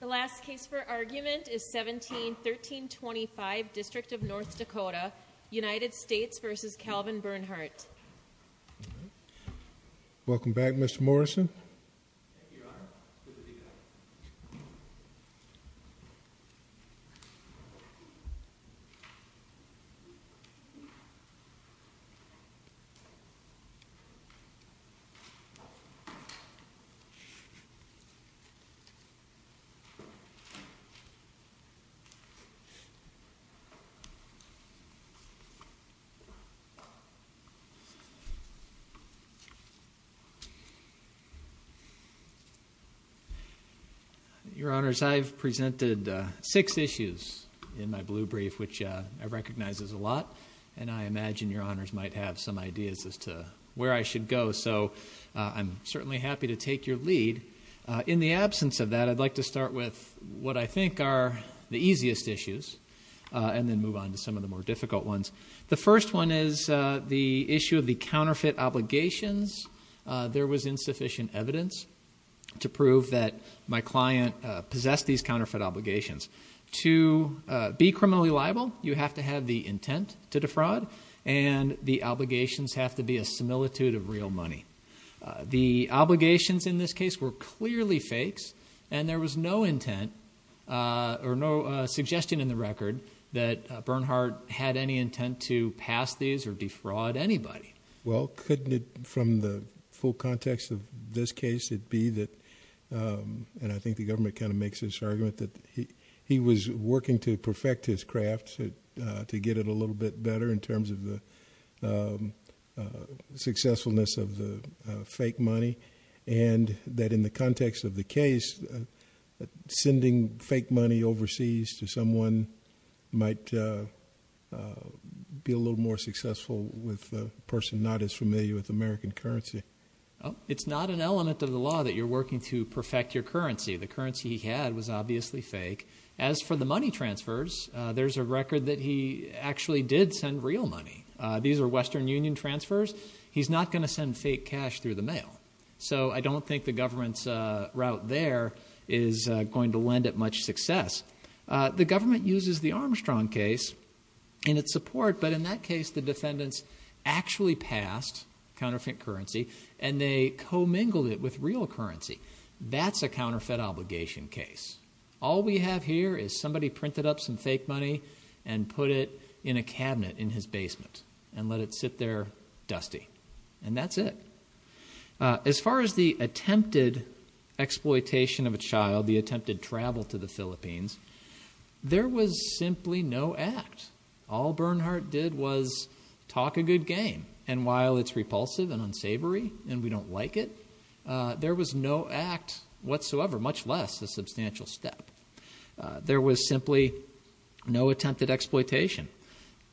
The last case for argument is 17-1325 District of North Dakota United States v. Calvin Bernhardt Your Honors, I've presented six issues in my blue brief, which I recognize is a lot. And I imagine Your Honors might have some ideas as to where I should go. So I'm certainly happy to take your lead. In the absence of that, I'd like to start with what I think are the easiest issues and then move on to some of the more difficult ones. The first one is the issue of the counterfeit obligations. There was insufficient evidence to prove that my client possessed these counterfeit obligations. To be criminally liable, you have to have the intent to defraud, and the obligations have to be a similitude of real money. The obligations in this case were clearly fakes, and there was no intent or no suggestion in the record that Bernhardt had any intent to pass these or defraud anybody. Well, couldn't it, from the full context of this case, it be that, and I think the government kind of makes this argument, that he was working to perfect his craft to get it a little bit better in terms of the successfulness of the fake money, and that in the context of the case, sending fake money overseas to someone might be a little more successful with a person not as familiar with American currency. It's not an element of the law that you're working to perfect your currency. The currency he had was obviously fake. As for the money transfers, there's a record that he actually did send real money. These are Western Union transfers. He's not going to send fake cash through the mail, so I don't think the government's route there is going to lend it much success. The government uses the Armstrong case in its support, but in that case, the defendants actually passed counterfeit currency, and they commingled it with real currency. That's a counterfeit obligation case. All we have here is somebody printed up some fake money and put it in a cabinet in his basement and let it sit there dusty, and that's it. As far as the attempted exploitation of a child, the attempted travel to the Philippines, there was simply no act. All Bernhardt did was talk a good game, and while it's repulsive and unsavory and we don't like it, there was no act whatsoever, much less a substantial step. There was simply no attempted exploitation.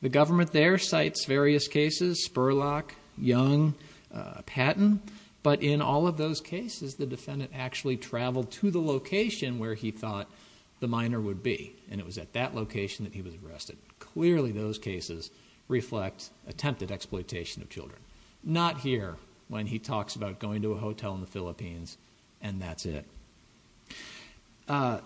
The government there cites various cases, Spurlock, Young, Patton, but in all of those cases, the defendant actually traveled to the location where he thought the minor would be, and it was at that location that he was arrested. Clearly, those cases reflect attempted exploitation of children. Not here, when he talks about going to a hotel in the Philippines, and that's it. The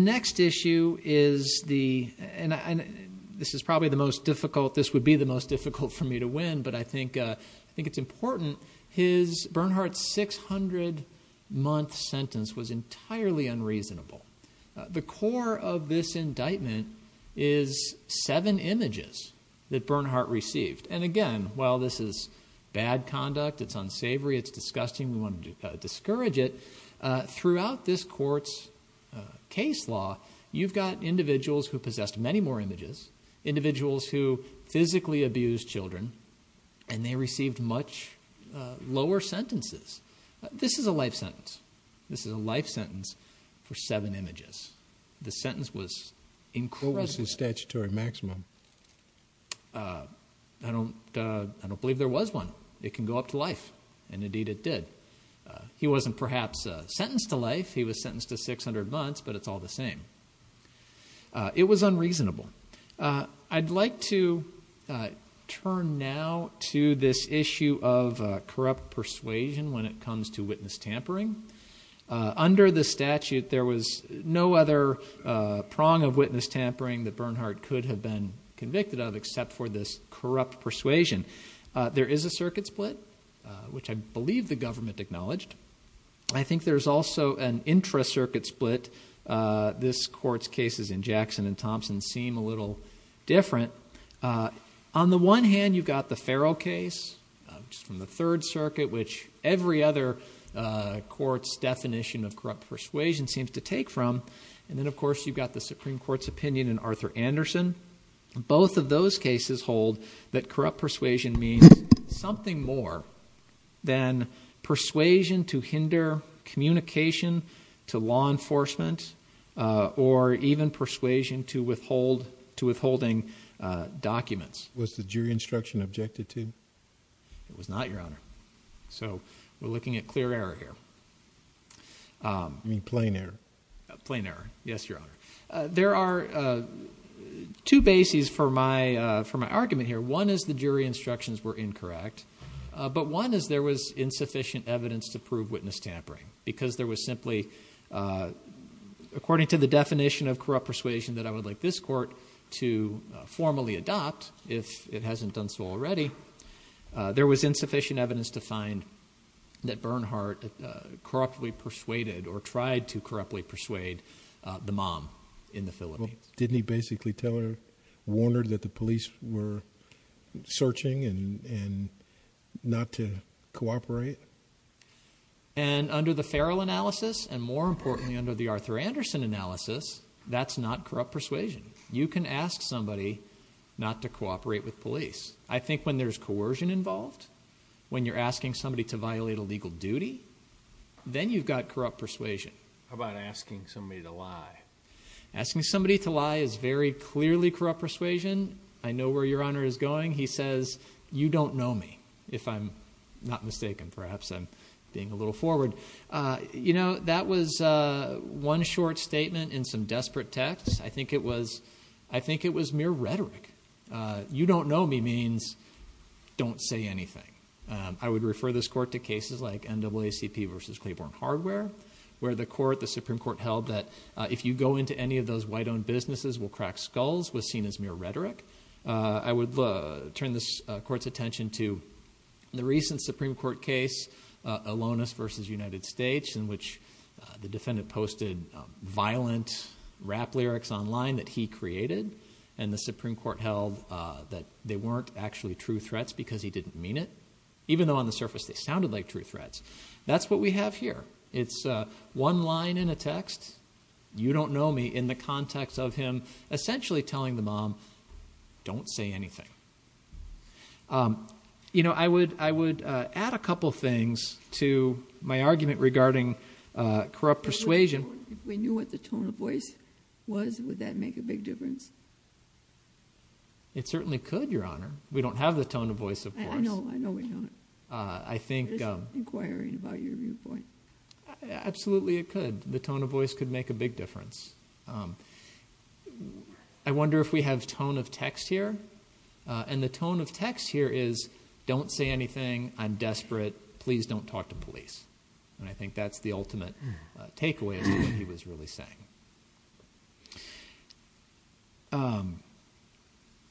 next issue is the, and this is probably the most difficult, this would be the most difficult for me to win, but I think it's important. Bernhardt's 600-month sentence was entirely unreasonable. The core of this indictment is seven images that Bernhardt received, and again, while this is bad conduct, it's unsavory, it's disgusting, we want to discourage it, throughout this court's case law, you've got individuals who possessed many more images, individuals who physically abused children, and they received much lower sentences. This is a life sentence. This is a life sentence for seven images. The sentence was incredible. What was his statutory maximum? I don't believe there was one. It can go up to life, and indeed it did. He wasn't perhaps sentenced to life, he was sentenced to 600 months, but it's all the same. It was unreasonable. I'd like to turn now to this issue of corrupt persuasion when it comes to witness tampering. Under the statute, there was no other prong of witness tampering that Bernhardt could have been convicted of except for this corrupt persuasion. There is a circuit split, which I believe the government acknowledged. I think there's also an intra-circuit split. This court's cases in Jackson and Thompson seem a little different. On the one hand, you've got the Farrell case from the Third Circuit, which every other court's definition of corrupt persuasion seems to take from, and then of course you've got the Supreme Court's opinion in Arthur Anderson. Both of those cases hold that corrupt persuasion means something more than persuasion to hinder communication to law enforcement or even persuasion to withholding documents. Was the jury instruction objected to? It was not, Your Honor. We're looking at clear error here. You mean plain error? Plain error, yes, Your Honor. There are two bases for my argument here. One is the jury instructions were incorrect, but one is there was insufficient evidence to prove witness tampering because there was simply, according to the definition of corrupt persuasion that I would like this court to formally adopt if it hasn't done so already, there was insufficient evidence to find that Bernhardt corruptly persuaded or tried to corruptly persuade the mom in the Philippines. Didn't he basically tell her, warn her that the police were searching and not to cooperate? And under the Farrell analysis and more importantly under the Arthur Anderson analysis, that's not corrupt persuasion. You can ask somebody not to cooperate with police. I think when there's coercion involved, when you're asking somebody to violate a legal duty, then you've got corrupt persuasion. How about asking somebody to lie? Asking somebody to lie is very clearly corrupt persuasion. I know where Your Honor is going. He says, you don't know me, if I'm not mistaken. Perhaps I'm being a little forward. You know, that was one short statement in some desperate texts. I think it was mere rhetoric. You don't know me means don't say anything. I would refer this Court to cases like NAACP versus Claiborne Hardware where the Supreme Court held that if you go into any of those white-owned businesses, we'll crack skulls was seen as mere rhetoric. I would turn this Court's attention to the recent Supreme Court case, Alonis versus United States, in which the defendant posted violent rap lyrics online that he created and the Supreme Court held that they weren't actually true threats because he didn't mean it, even though on the surface they sounded like true threats. That's what we have here. It's one line in a text, you don't know me, in the context of him essentially telling the mom, don't say anything. You know, I would add a couple things to my argument regarding corrupt persuasion. If we knew what the tone of voice was, would that make a big difference? It certainly could, Your Honor. We don't have the tone of voice, of course. I know, I know we don't. It's inquiring about your viewpoint. Absolutely, it could. The tone of voice could make a big difference. I wonder if we have tone of text here. The tone of text here is don't say anything, I'm desperate, please don't talk to police. And I think that's the ultimate takeaway as to what he was really saying.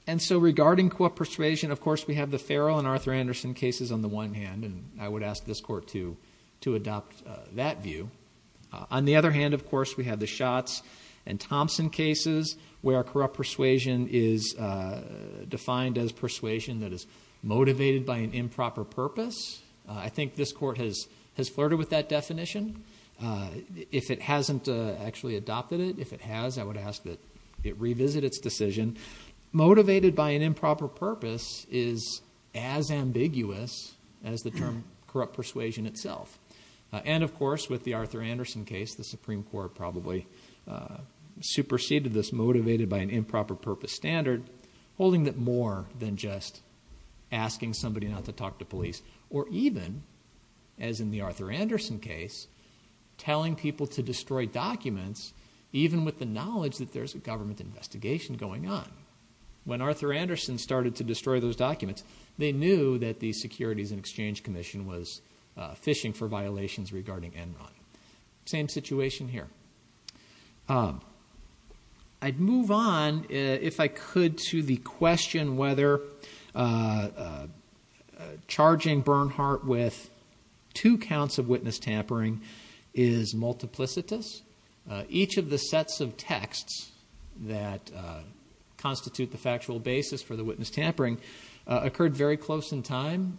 And so regarding corrupt persuasion, of course, we have the Farrell and Arthur Anderson cases on the one hand, and I would ask this Court to adopt that view. On the other hand, of course, we have the Schatz and Thompson cases where corrupt persuasion is defined as persuasion that is motivated by an improper purpose. I think this Court has flirted with that definition. If it hasn't actually adopted it, if it has, I would ask that it revisit its decision. Motivated by an improper purpose is as ambiguous as the term corrupt persuasion itself. And, of course, with the Arthur Anderson case, the Supreme Court probably superseded this motivated by an improper purpose standard, holding it more than just asking somebody not to talk to police or even, as in the Arthur Anderson case, telling people to destroy documents even with the knowledge that there's a government investigation going on. When Arthur Anderson started to destroy those documents, they knew that the Securities and Exchange Commission was fishing for violations regarding Enron. Same situation here. I'd move on, if I could, to the question of whether charging Bernhardt with two counts of witness tampering is multiplicitous. Each of the sets of texts that constitute the factual basis for the witness tampering occurred very close in time.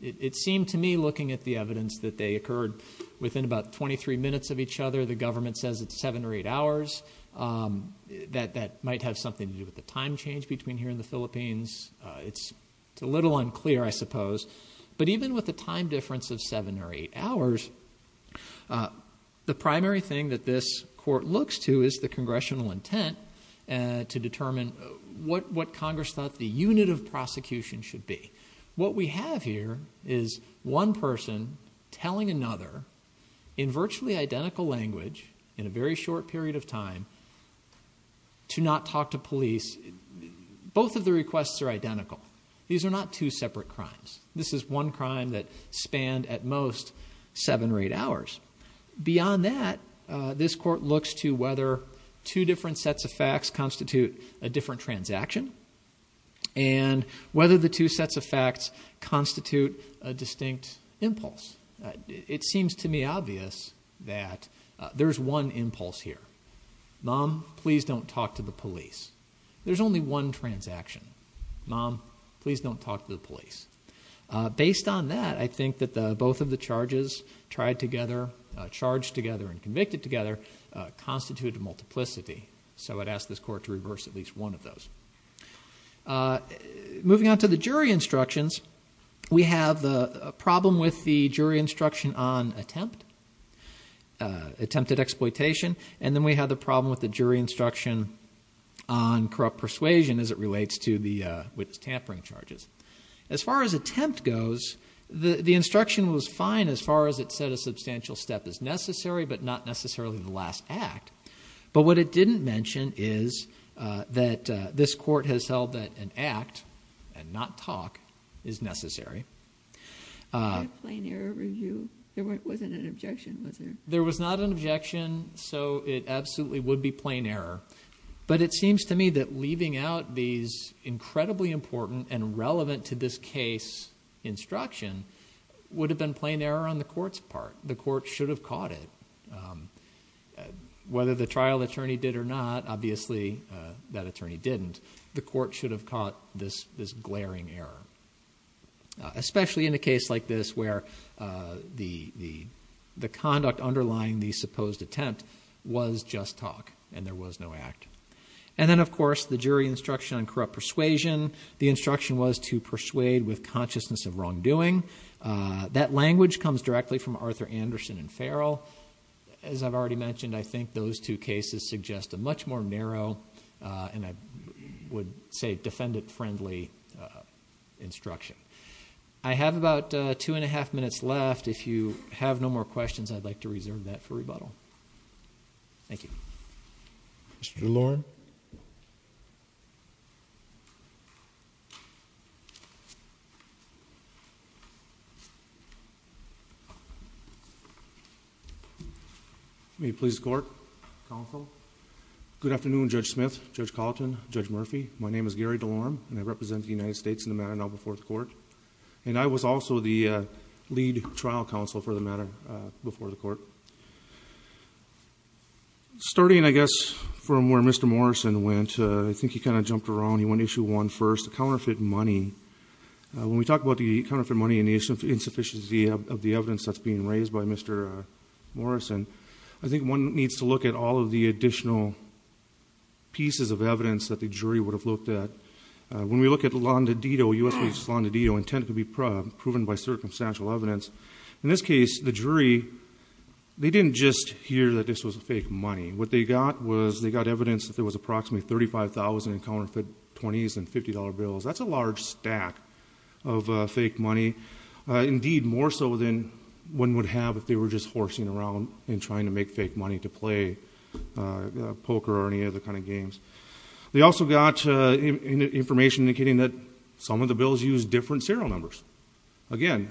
It seemed to me, looking at the evidence, that they occurred within about 23 minutes of each other. The government says it's seven or eight hours. That might have something to do with the time change between here and the Philippines. It's a little unclear, I suppose. But even with a time difference of seven or eight hours, the primary thing that this court looks to is the congressional intent to determine what Congress thought the unit of prosecution should be. What we have here is one person telling another, in virtually identical language, in a very short period of time, to not talk to police. Both of the requests are identical. These are not two separate crimes. This is one crime that spanned, at most, seven or eight hours. Beyond that, this court looks to whether two different sets of facts constitute a different transaction and whether the two sets of facts constitute a distinct impulse. It seems to me obvious that there's one impulse here. Mom, please don't talk to the police. There's only one transaction. Mom, please don't talk to the police. Based on that, I think that both of the charges tried together, charged together and convicted together, constitute a multiplicity. So I'd ask this court to reverse at least one of those. Moving on to the jury instructions, we have a problem with the jury instruction on attempt, attempted exploitation, and then we have the problem with the jury instruction on corrupt persuasion as it relates to the tampering charges. As far as attempt goes, the instruction was fine as far as it said a substantial step is necessary but not necessarily the last act. But what it didn't mention is that this court has held that an act, and not talk, is necessary. There wasn't an objection, was there? There was not an objection, so it absolutely would be plain error. But it seems to me that leaving out these incredibly important and relevant to this case instruction would have been plain error on the court's part. The court should have caught it. Whether the trial attorney did or not, obviously that attorney didn't, the court should have caught this glaring error. Especially in a case like this where the conduct underlying the supposed attempt was just talk and there was no act. And then, of course, the jury instruction on corrupt persuasion. The instruction was to persuade with consciousness of wrongdoing. That language comes directly from Arthur Anderson and Farrell. As I've already mentioned, I think those two cases suggest a much more narrow and I would say defendant-friendly instruction. I have about two and a half minutes left. If you have no more questions, I'd like to reserve that for rebuttal. Thank you. Mr. DeLorme. May it please the Court. Counsel. Good afternoon, Judge Smith, Judge Colleton, Judge Murphy. My name is Gary DeLorme, and I represent the United States in the matter now before the Court. And I was also the lead trial counsel for the matter before the Court. Starting, I guess, from where Mr. Morrison went, I think he kind of jumped around. He went issue one first, the counterfeit money. When we talk about the counterfeit money and the insufficiency of the evidence that's being raised by Mr. Morrison, I think one needs to look at all of the additional pieces of evidence that the jury would have looked at. When we look at U.S. v. Londo Dito, intent to be proven by circumstantial evidence, in this case the jury, they didn't just hear that this was fake money. What they got was they got evidence that there was approximately $35,000 in counterfeit 20s and $50 bills. That's a large stack of fake money, indeed more so than one would have if they were just horsing around and trying to make fake money to play poker or any other kind of games. They also got information indicating that some of the bills used different serial numbers. Again,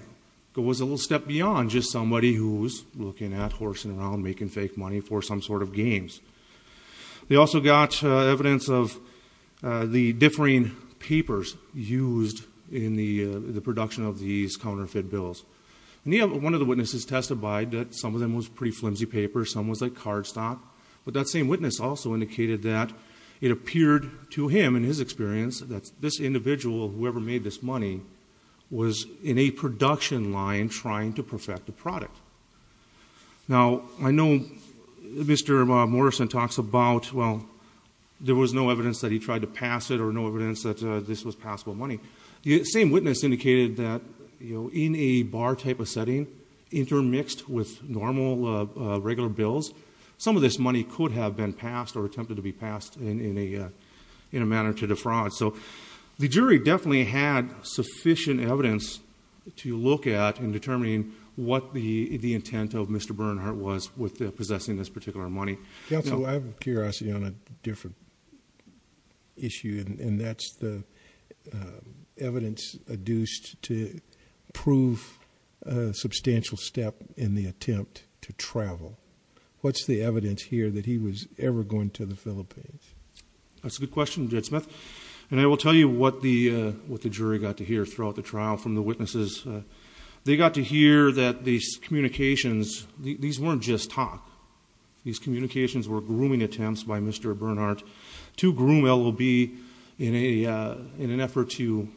it was a little step beyond just somebody who was looking at, horsing around, making fake money for some sort of games. They also got evidence of the differing papers used in the production of these counterfeit bills. One of the witnesses testified that some of them was pretty flimsy paper, some was like card stock, but that same witness also indicated that it appeared to him, in his experience, that this individual, whoever made this money, was in a production line trying to perfect the product. Now, I know Mr. Morrison talks about, well, there was no evidence that he tried to pass it or no evidence that this was passable money. The same witness indicated that in a bar type of setting, intermixed with normal, regular bills, some of this money could have been passed or attempted to be passed in a manner to defraud. So the jury definitely had sufficient evidence to look at in determining what the intent of Mr. Bernhardt was with possessing this particular money. Counsel, I have a curiosity on a different issue, and that's the evidence adduced to prove a substantial step in the attempt to travel. What's the evidence here that he was ever going to the Philippines? That's a good question, Judge Smith, and I will tell you what the jury got to hear throughout the trial from the witnesses. They got to hear that these communications, these weren't just talk. These communications were grooming attempts by Mr. Bernhardt to groom L.O.B. in an effort to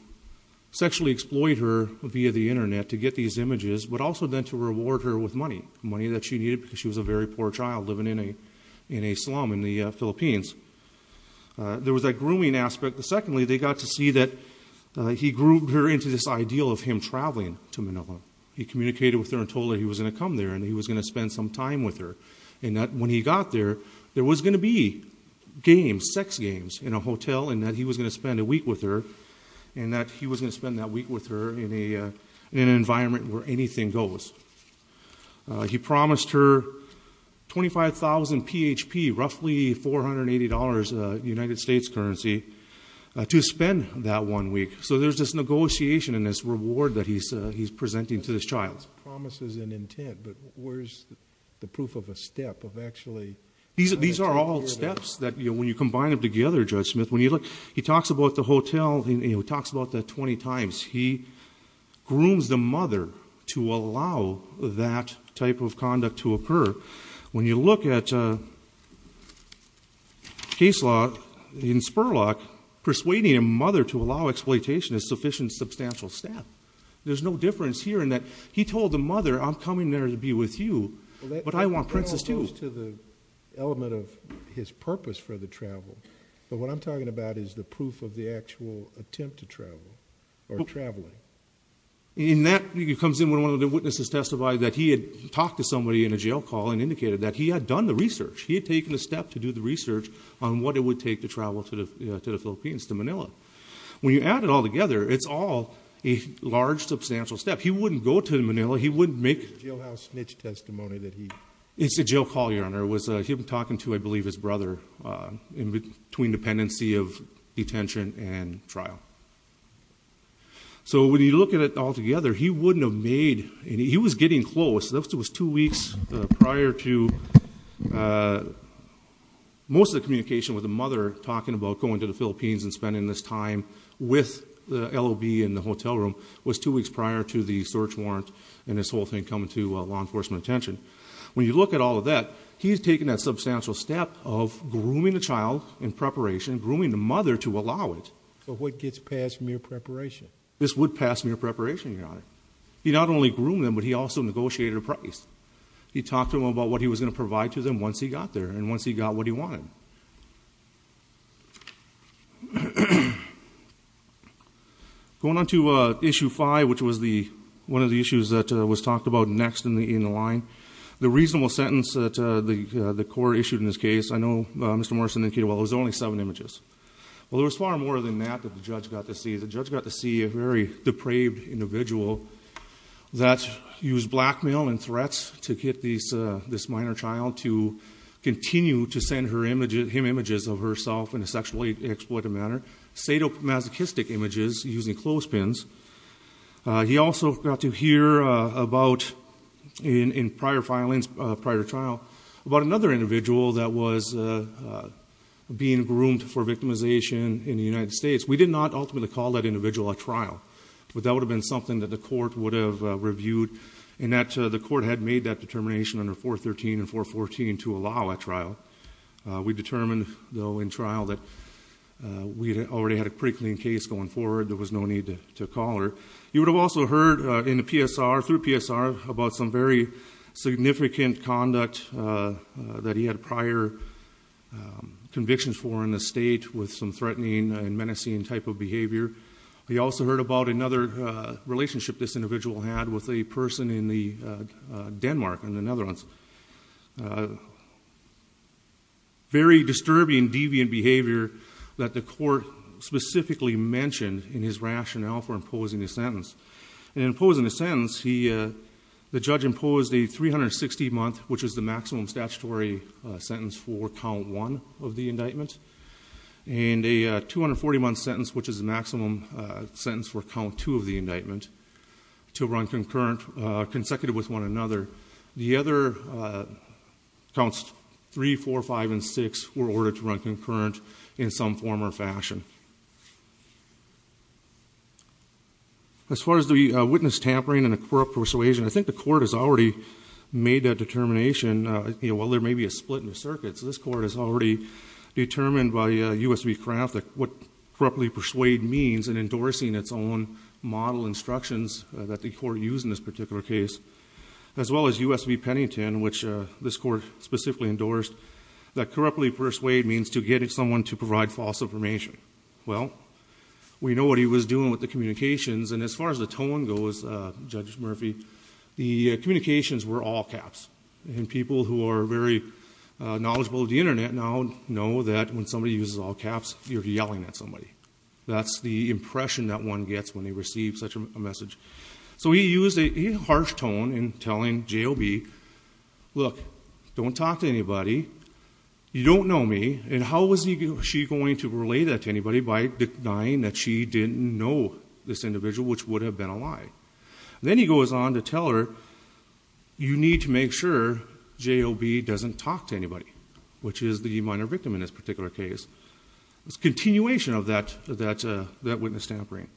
sexually exploit her via the Internet to get these images, but also then to reward her with money, money that she needed because she was a very poor child living in a slum in the Philippines. There was that grooming aspect. Secondly, they got to see that he groomed her into this ideal of him traveling to Manila. He communicated with her and told her he was going to come there and he was going to spend some time with her, and that when he got there, there was going to be games, sex games in a hotel, and that he was going to spend a week with her and that he was going to spend that week with her in an environment where anything goes. He promised her $25,000 PHP, roughly $480 United States currency, to spend that one week. So there's this negotiation and this reward that he's presenting to this child. So that's promises and intent, but where's the proof of a step of actually... These are all steps that, when you combine them together, Judge Smith, when you look, he talks about the hotel, he talks about that 20 times. He grooms the mother to allow that type of conduct to occur. When you look at case law in Spurlock, persuading a mother to allow exploitation is a sufficient, substantial step. There's no difference here in that he told the mother, I'm coming there to be with you, but I want Princess too. That all goes to the element of his purpose for the travel. But what I'm talking about is the proof of the actual attempt to travel or traveling. And that comes in when one of the witnesses testified that he had talked to somebody in a jail call and indicated that he had done the research. He had taken a step to do the research on what it would take to travel to the Philippines, to Manila. When you add it all together, it's all a large, substantial step. He wouldn't go to Manila, he wouldn't make... The jailhouse snitch testimony that he... It's a jail call, Your Honor. It was him talking to, I believe, his brother in between dependency of detention and trial. So when you look at it all together, he wouldn't have made... He was getting close. This was two weeks prior to most of the communication with the mother talking about going to the Philippines and spending this time with the LOB in the hotel room was two weeks prior to the search warrant and this whole thing coming to law enforcement attention. When you look at all of that, he's taken that substantial step of grooming the child in preparation, grooming the mother to allow it. But what gets passed from your preparation? This would pass from your preparation, Your Honor. He not only groomed them, but he also negotiated a price. He talked to them about what he was going to provide to them once he got there Going on to Issue 5, which was one of the issues that was talked about next in the line. The reasonable sentence that the court issued in this case, I know Mr. Morrison indicated, well, it was only seven images. Well, there was far more than that that the judge got to see. The judge got to see a very depraved individual that used blackmail and threats to get this minor child to continue to send him images of herself in a sexually exploitative manner, sadomasochistic images using clothespins. He also got to hear in prior trial about another individual that was being groomed for victimization in the United States. We did not ultimately call that individual at trial, but that would have been something that the court would have reviewed and that the court had made that determination under 413 and 414 to allow at trial. We determined, though, in trial that we already had a pretty clean case going forward. There was no need to call her. You would have also heard in the PSR, through PSR, about some very significant conduct that he had prior convictions for in the state with some threatening and menacing type of behavior. He also heard about another relationship this individual had with a person in Denmark, in the Netherlands. Very disturbing, deviant behavior that the court specifically mentioned in his rationale for imposing his sentence. In imposing his sentence, the judge imposed a 360-month, which is the maximum statutory sentence for count one of the indictment, and a 240-month sentence, which is the maximum sentence for count two of the indictment to run concurrent, consecutive with one another. The other counts three, four, five, and six were ordered to run concurrent in some form or fashion. As far as the witness tampering and the corrupt persuasion, I think the court has already made that determination. While there may be a split in the circuit, this court has already determined by U.S. v. Kraft what corruptly persuade means in endorsing its own model instructions that the court used in this particular case, as well as U.S. v. Pennington, which this court specifically endorsed, that corruptly persuade means to get someone to provide false information. Well, we know what he was doing with the communications, and as far as the tone goes, Judge Murphy, the communications were all caps. And people who are very knowledgeable of the Internet now know that when somebody uses all caps, you're yelling at somebody. That's the impression that one gets when they receive such a message. So he used a harsh tone in telling J.O.B., Look, don't talk to anybody. You don't know me. And how was she going to relay that to anybody by denying that she didn't know this individual, which would have been a lie? Then he goes on to tell her, You need to make sure J.O.B. doesn't talk to anybody, which is the minor victim in this particular case. It's a continuation of that witness tampering.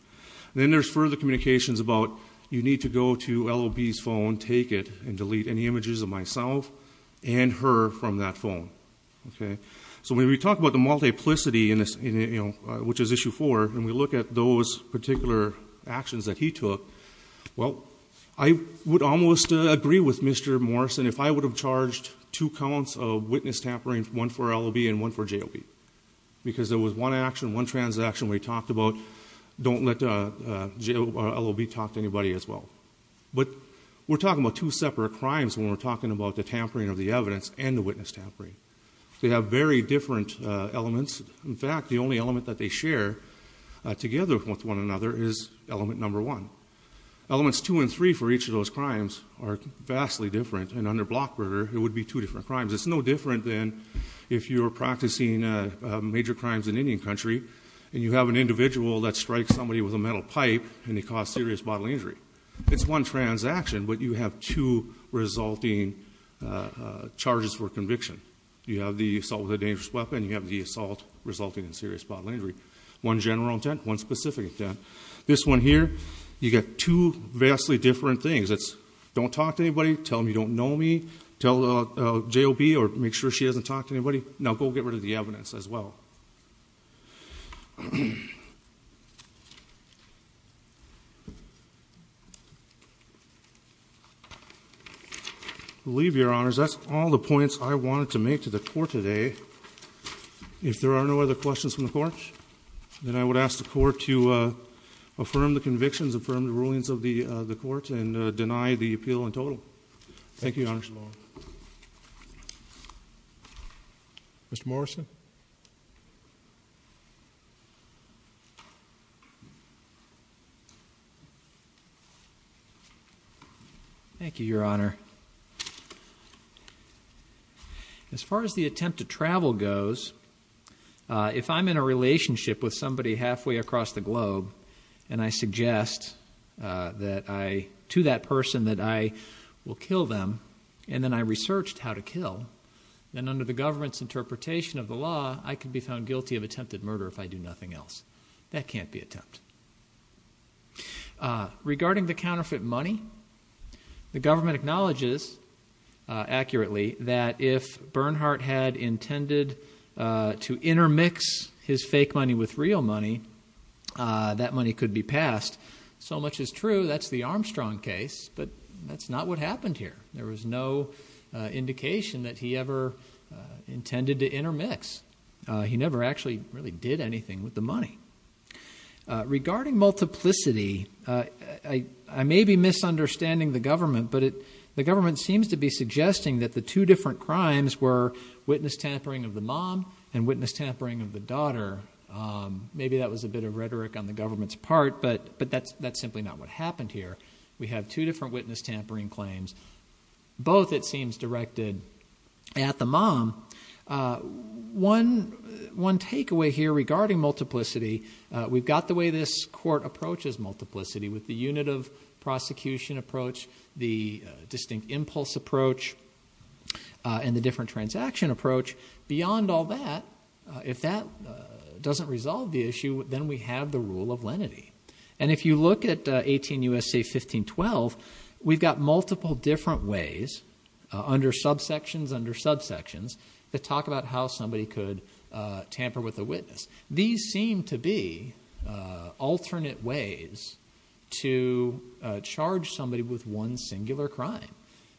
Then there's further communications about, You need to go to L.O.B.'s phone, take it, and delete any images of myself and her from that phone. So when we talk about the multiplicity, which is Issue 4, and we look at those particular actions that he took, well, I would almost agree with Mr. Morrison if I would have charged two counts of witness tampering, one for L.O.B. and one for J.O.B., because there was one action, one transaction we talked about, don't let L.O.B. talk to anybody as well. But we're talking about two separate crimes when we're talking about the tampering of the evidence and the witness tampering. They have very different elements. In fact, the only element that they share together with one another is element number one. Elements two and three for each of those crimes are vastly different, and under block murder it would be two different crimes. It's no different than if you're practicing major crimes in Indian country and you have an individual that strikes somebody with a metal pipe and they cause serious bodily injury. It's one transaction, but you have two resulting charges for conviction. You have the assault with a dangerous weapon. You have the assault resulting in serious bodily injury. One general intent, one specific intent. This one here, you get two vastly different things. It's don't talk to anybody, tell them you don't know me, tell J.O.B. or make sure she doesn't talk to anybody. Now go get rid of the evidence as well. I believe, Your Honors, that's all the points I wanted to make to the Court today. If there are no other questions from the Court, then I would ask the Court to affirm the convictions, affirm the rulings of the Court, and deny the appeal in total. Thank you, Your Honors. Thank you, Mr. Long. Mr. Morrison. Thank you, Your Honor. As far as the attempt to travel goes, if I'm in a relationship with somebody halfway across the globe and I suggest to that person that I will kill them and then I researched how to kill, then under the government's interpretation of the law, I could be found guilty of attempted murder if I do nothing else. That can't be attempt. Regarding the counterfeit money, the government acknowledges accurately that if Bernhardt had intended to intermix his fake money with real money, that money could be passed. So much is true, that's the Armstrong case, but that's not what happened here. There was no indication that he ever intended to intermix. He never actually really did anything with the money. Regarding multiplicity, I may be misunderstanding the government, but the government seems to be suggesting that the two different crimes were witness tampering of the mom and witness tampering of the daughter. Maybe that was a bit of rhetoric on the government's part, but that's simply not what happened here. We have two different witness tampering claims. Both, it seems, directed at the mom. One takeaway here regarding multiplicity, we've got the way this court approaches multiplicity with the unit of prosecution approach, the distinct impulse approach, and the different transaction approach. Beyond all that, if that doesn't resolve the issue, then we have the rule of lenity. And if you look at 18 U.S.C. 1512, we've got multiple different ways under subsections under subsections that talk about how somebody could tamper with a witness. These seem to be alternate ways to charge somebody with one singular crime.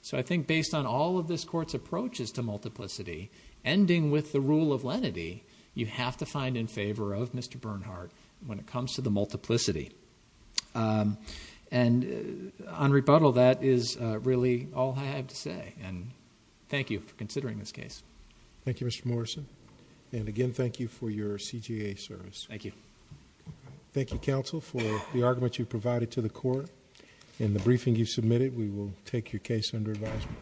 So I think based on all of this court's approaches to multiplicity, ending with the rule of lenity, you have to find in favor of Mr. Bernhardt when it comes to the multiplicity. And on rebuttal, that is really all I have to say. And thank you for considering this case. Thank you, Mr. Morrison. And again, thank you for your CJA service. Thank you. Thank you, counsel, for the argument you provided to the court. In the briefing you submitted, we will take your case under advisement.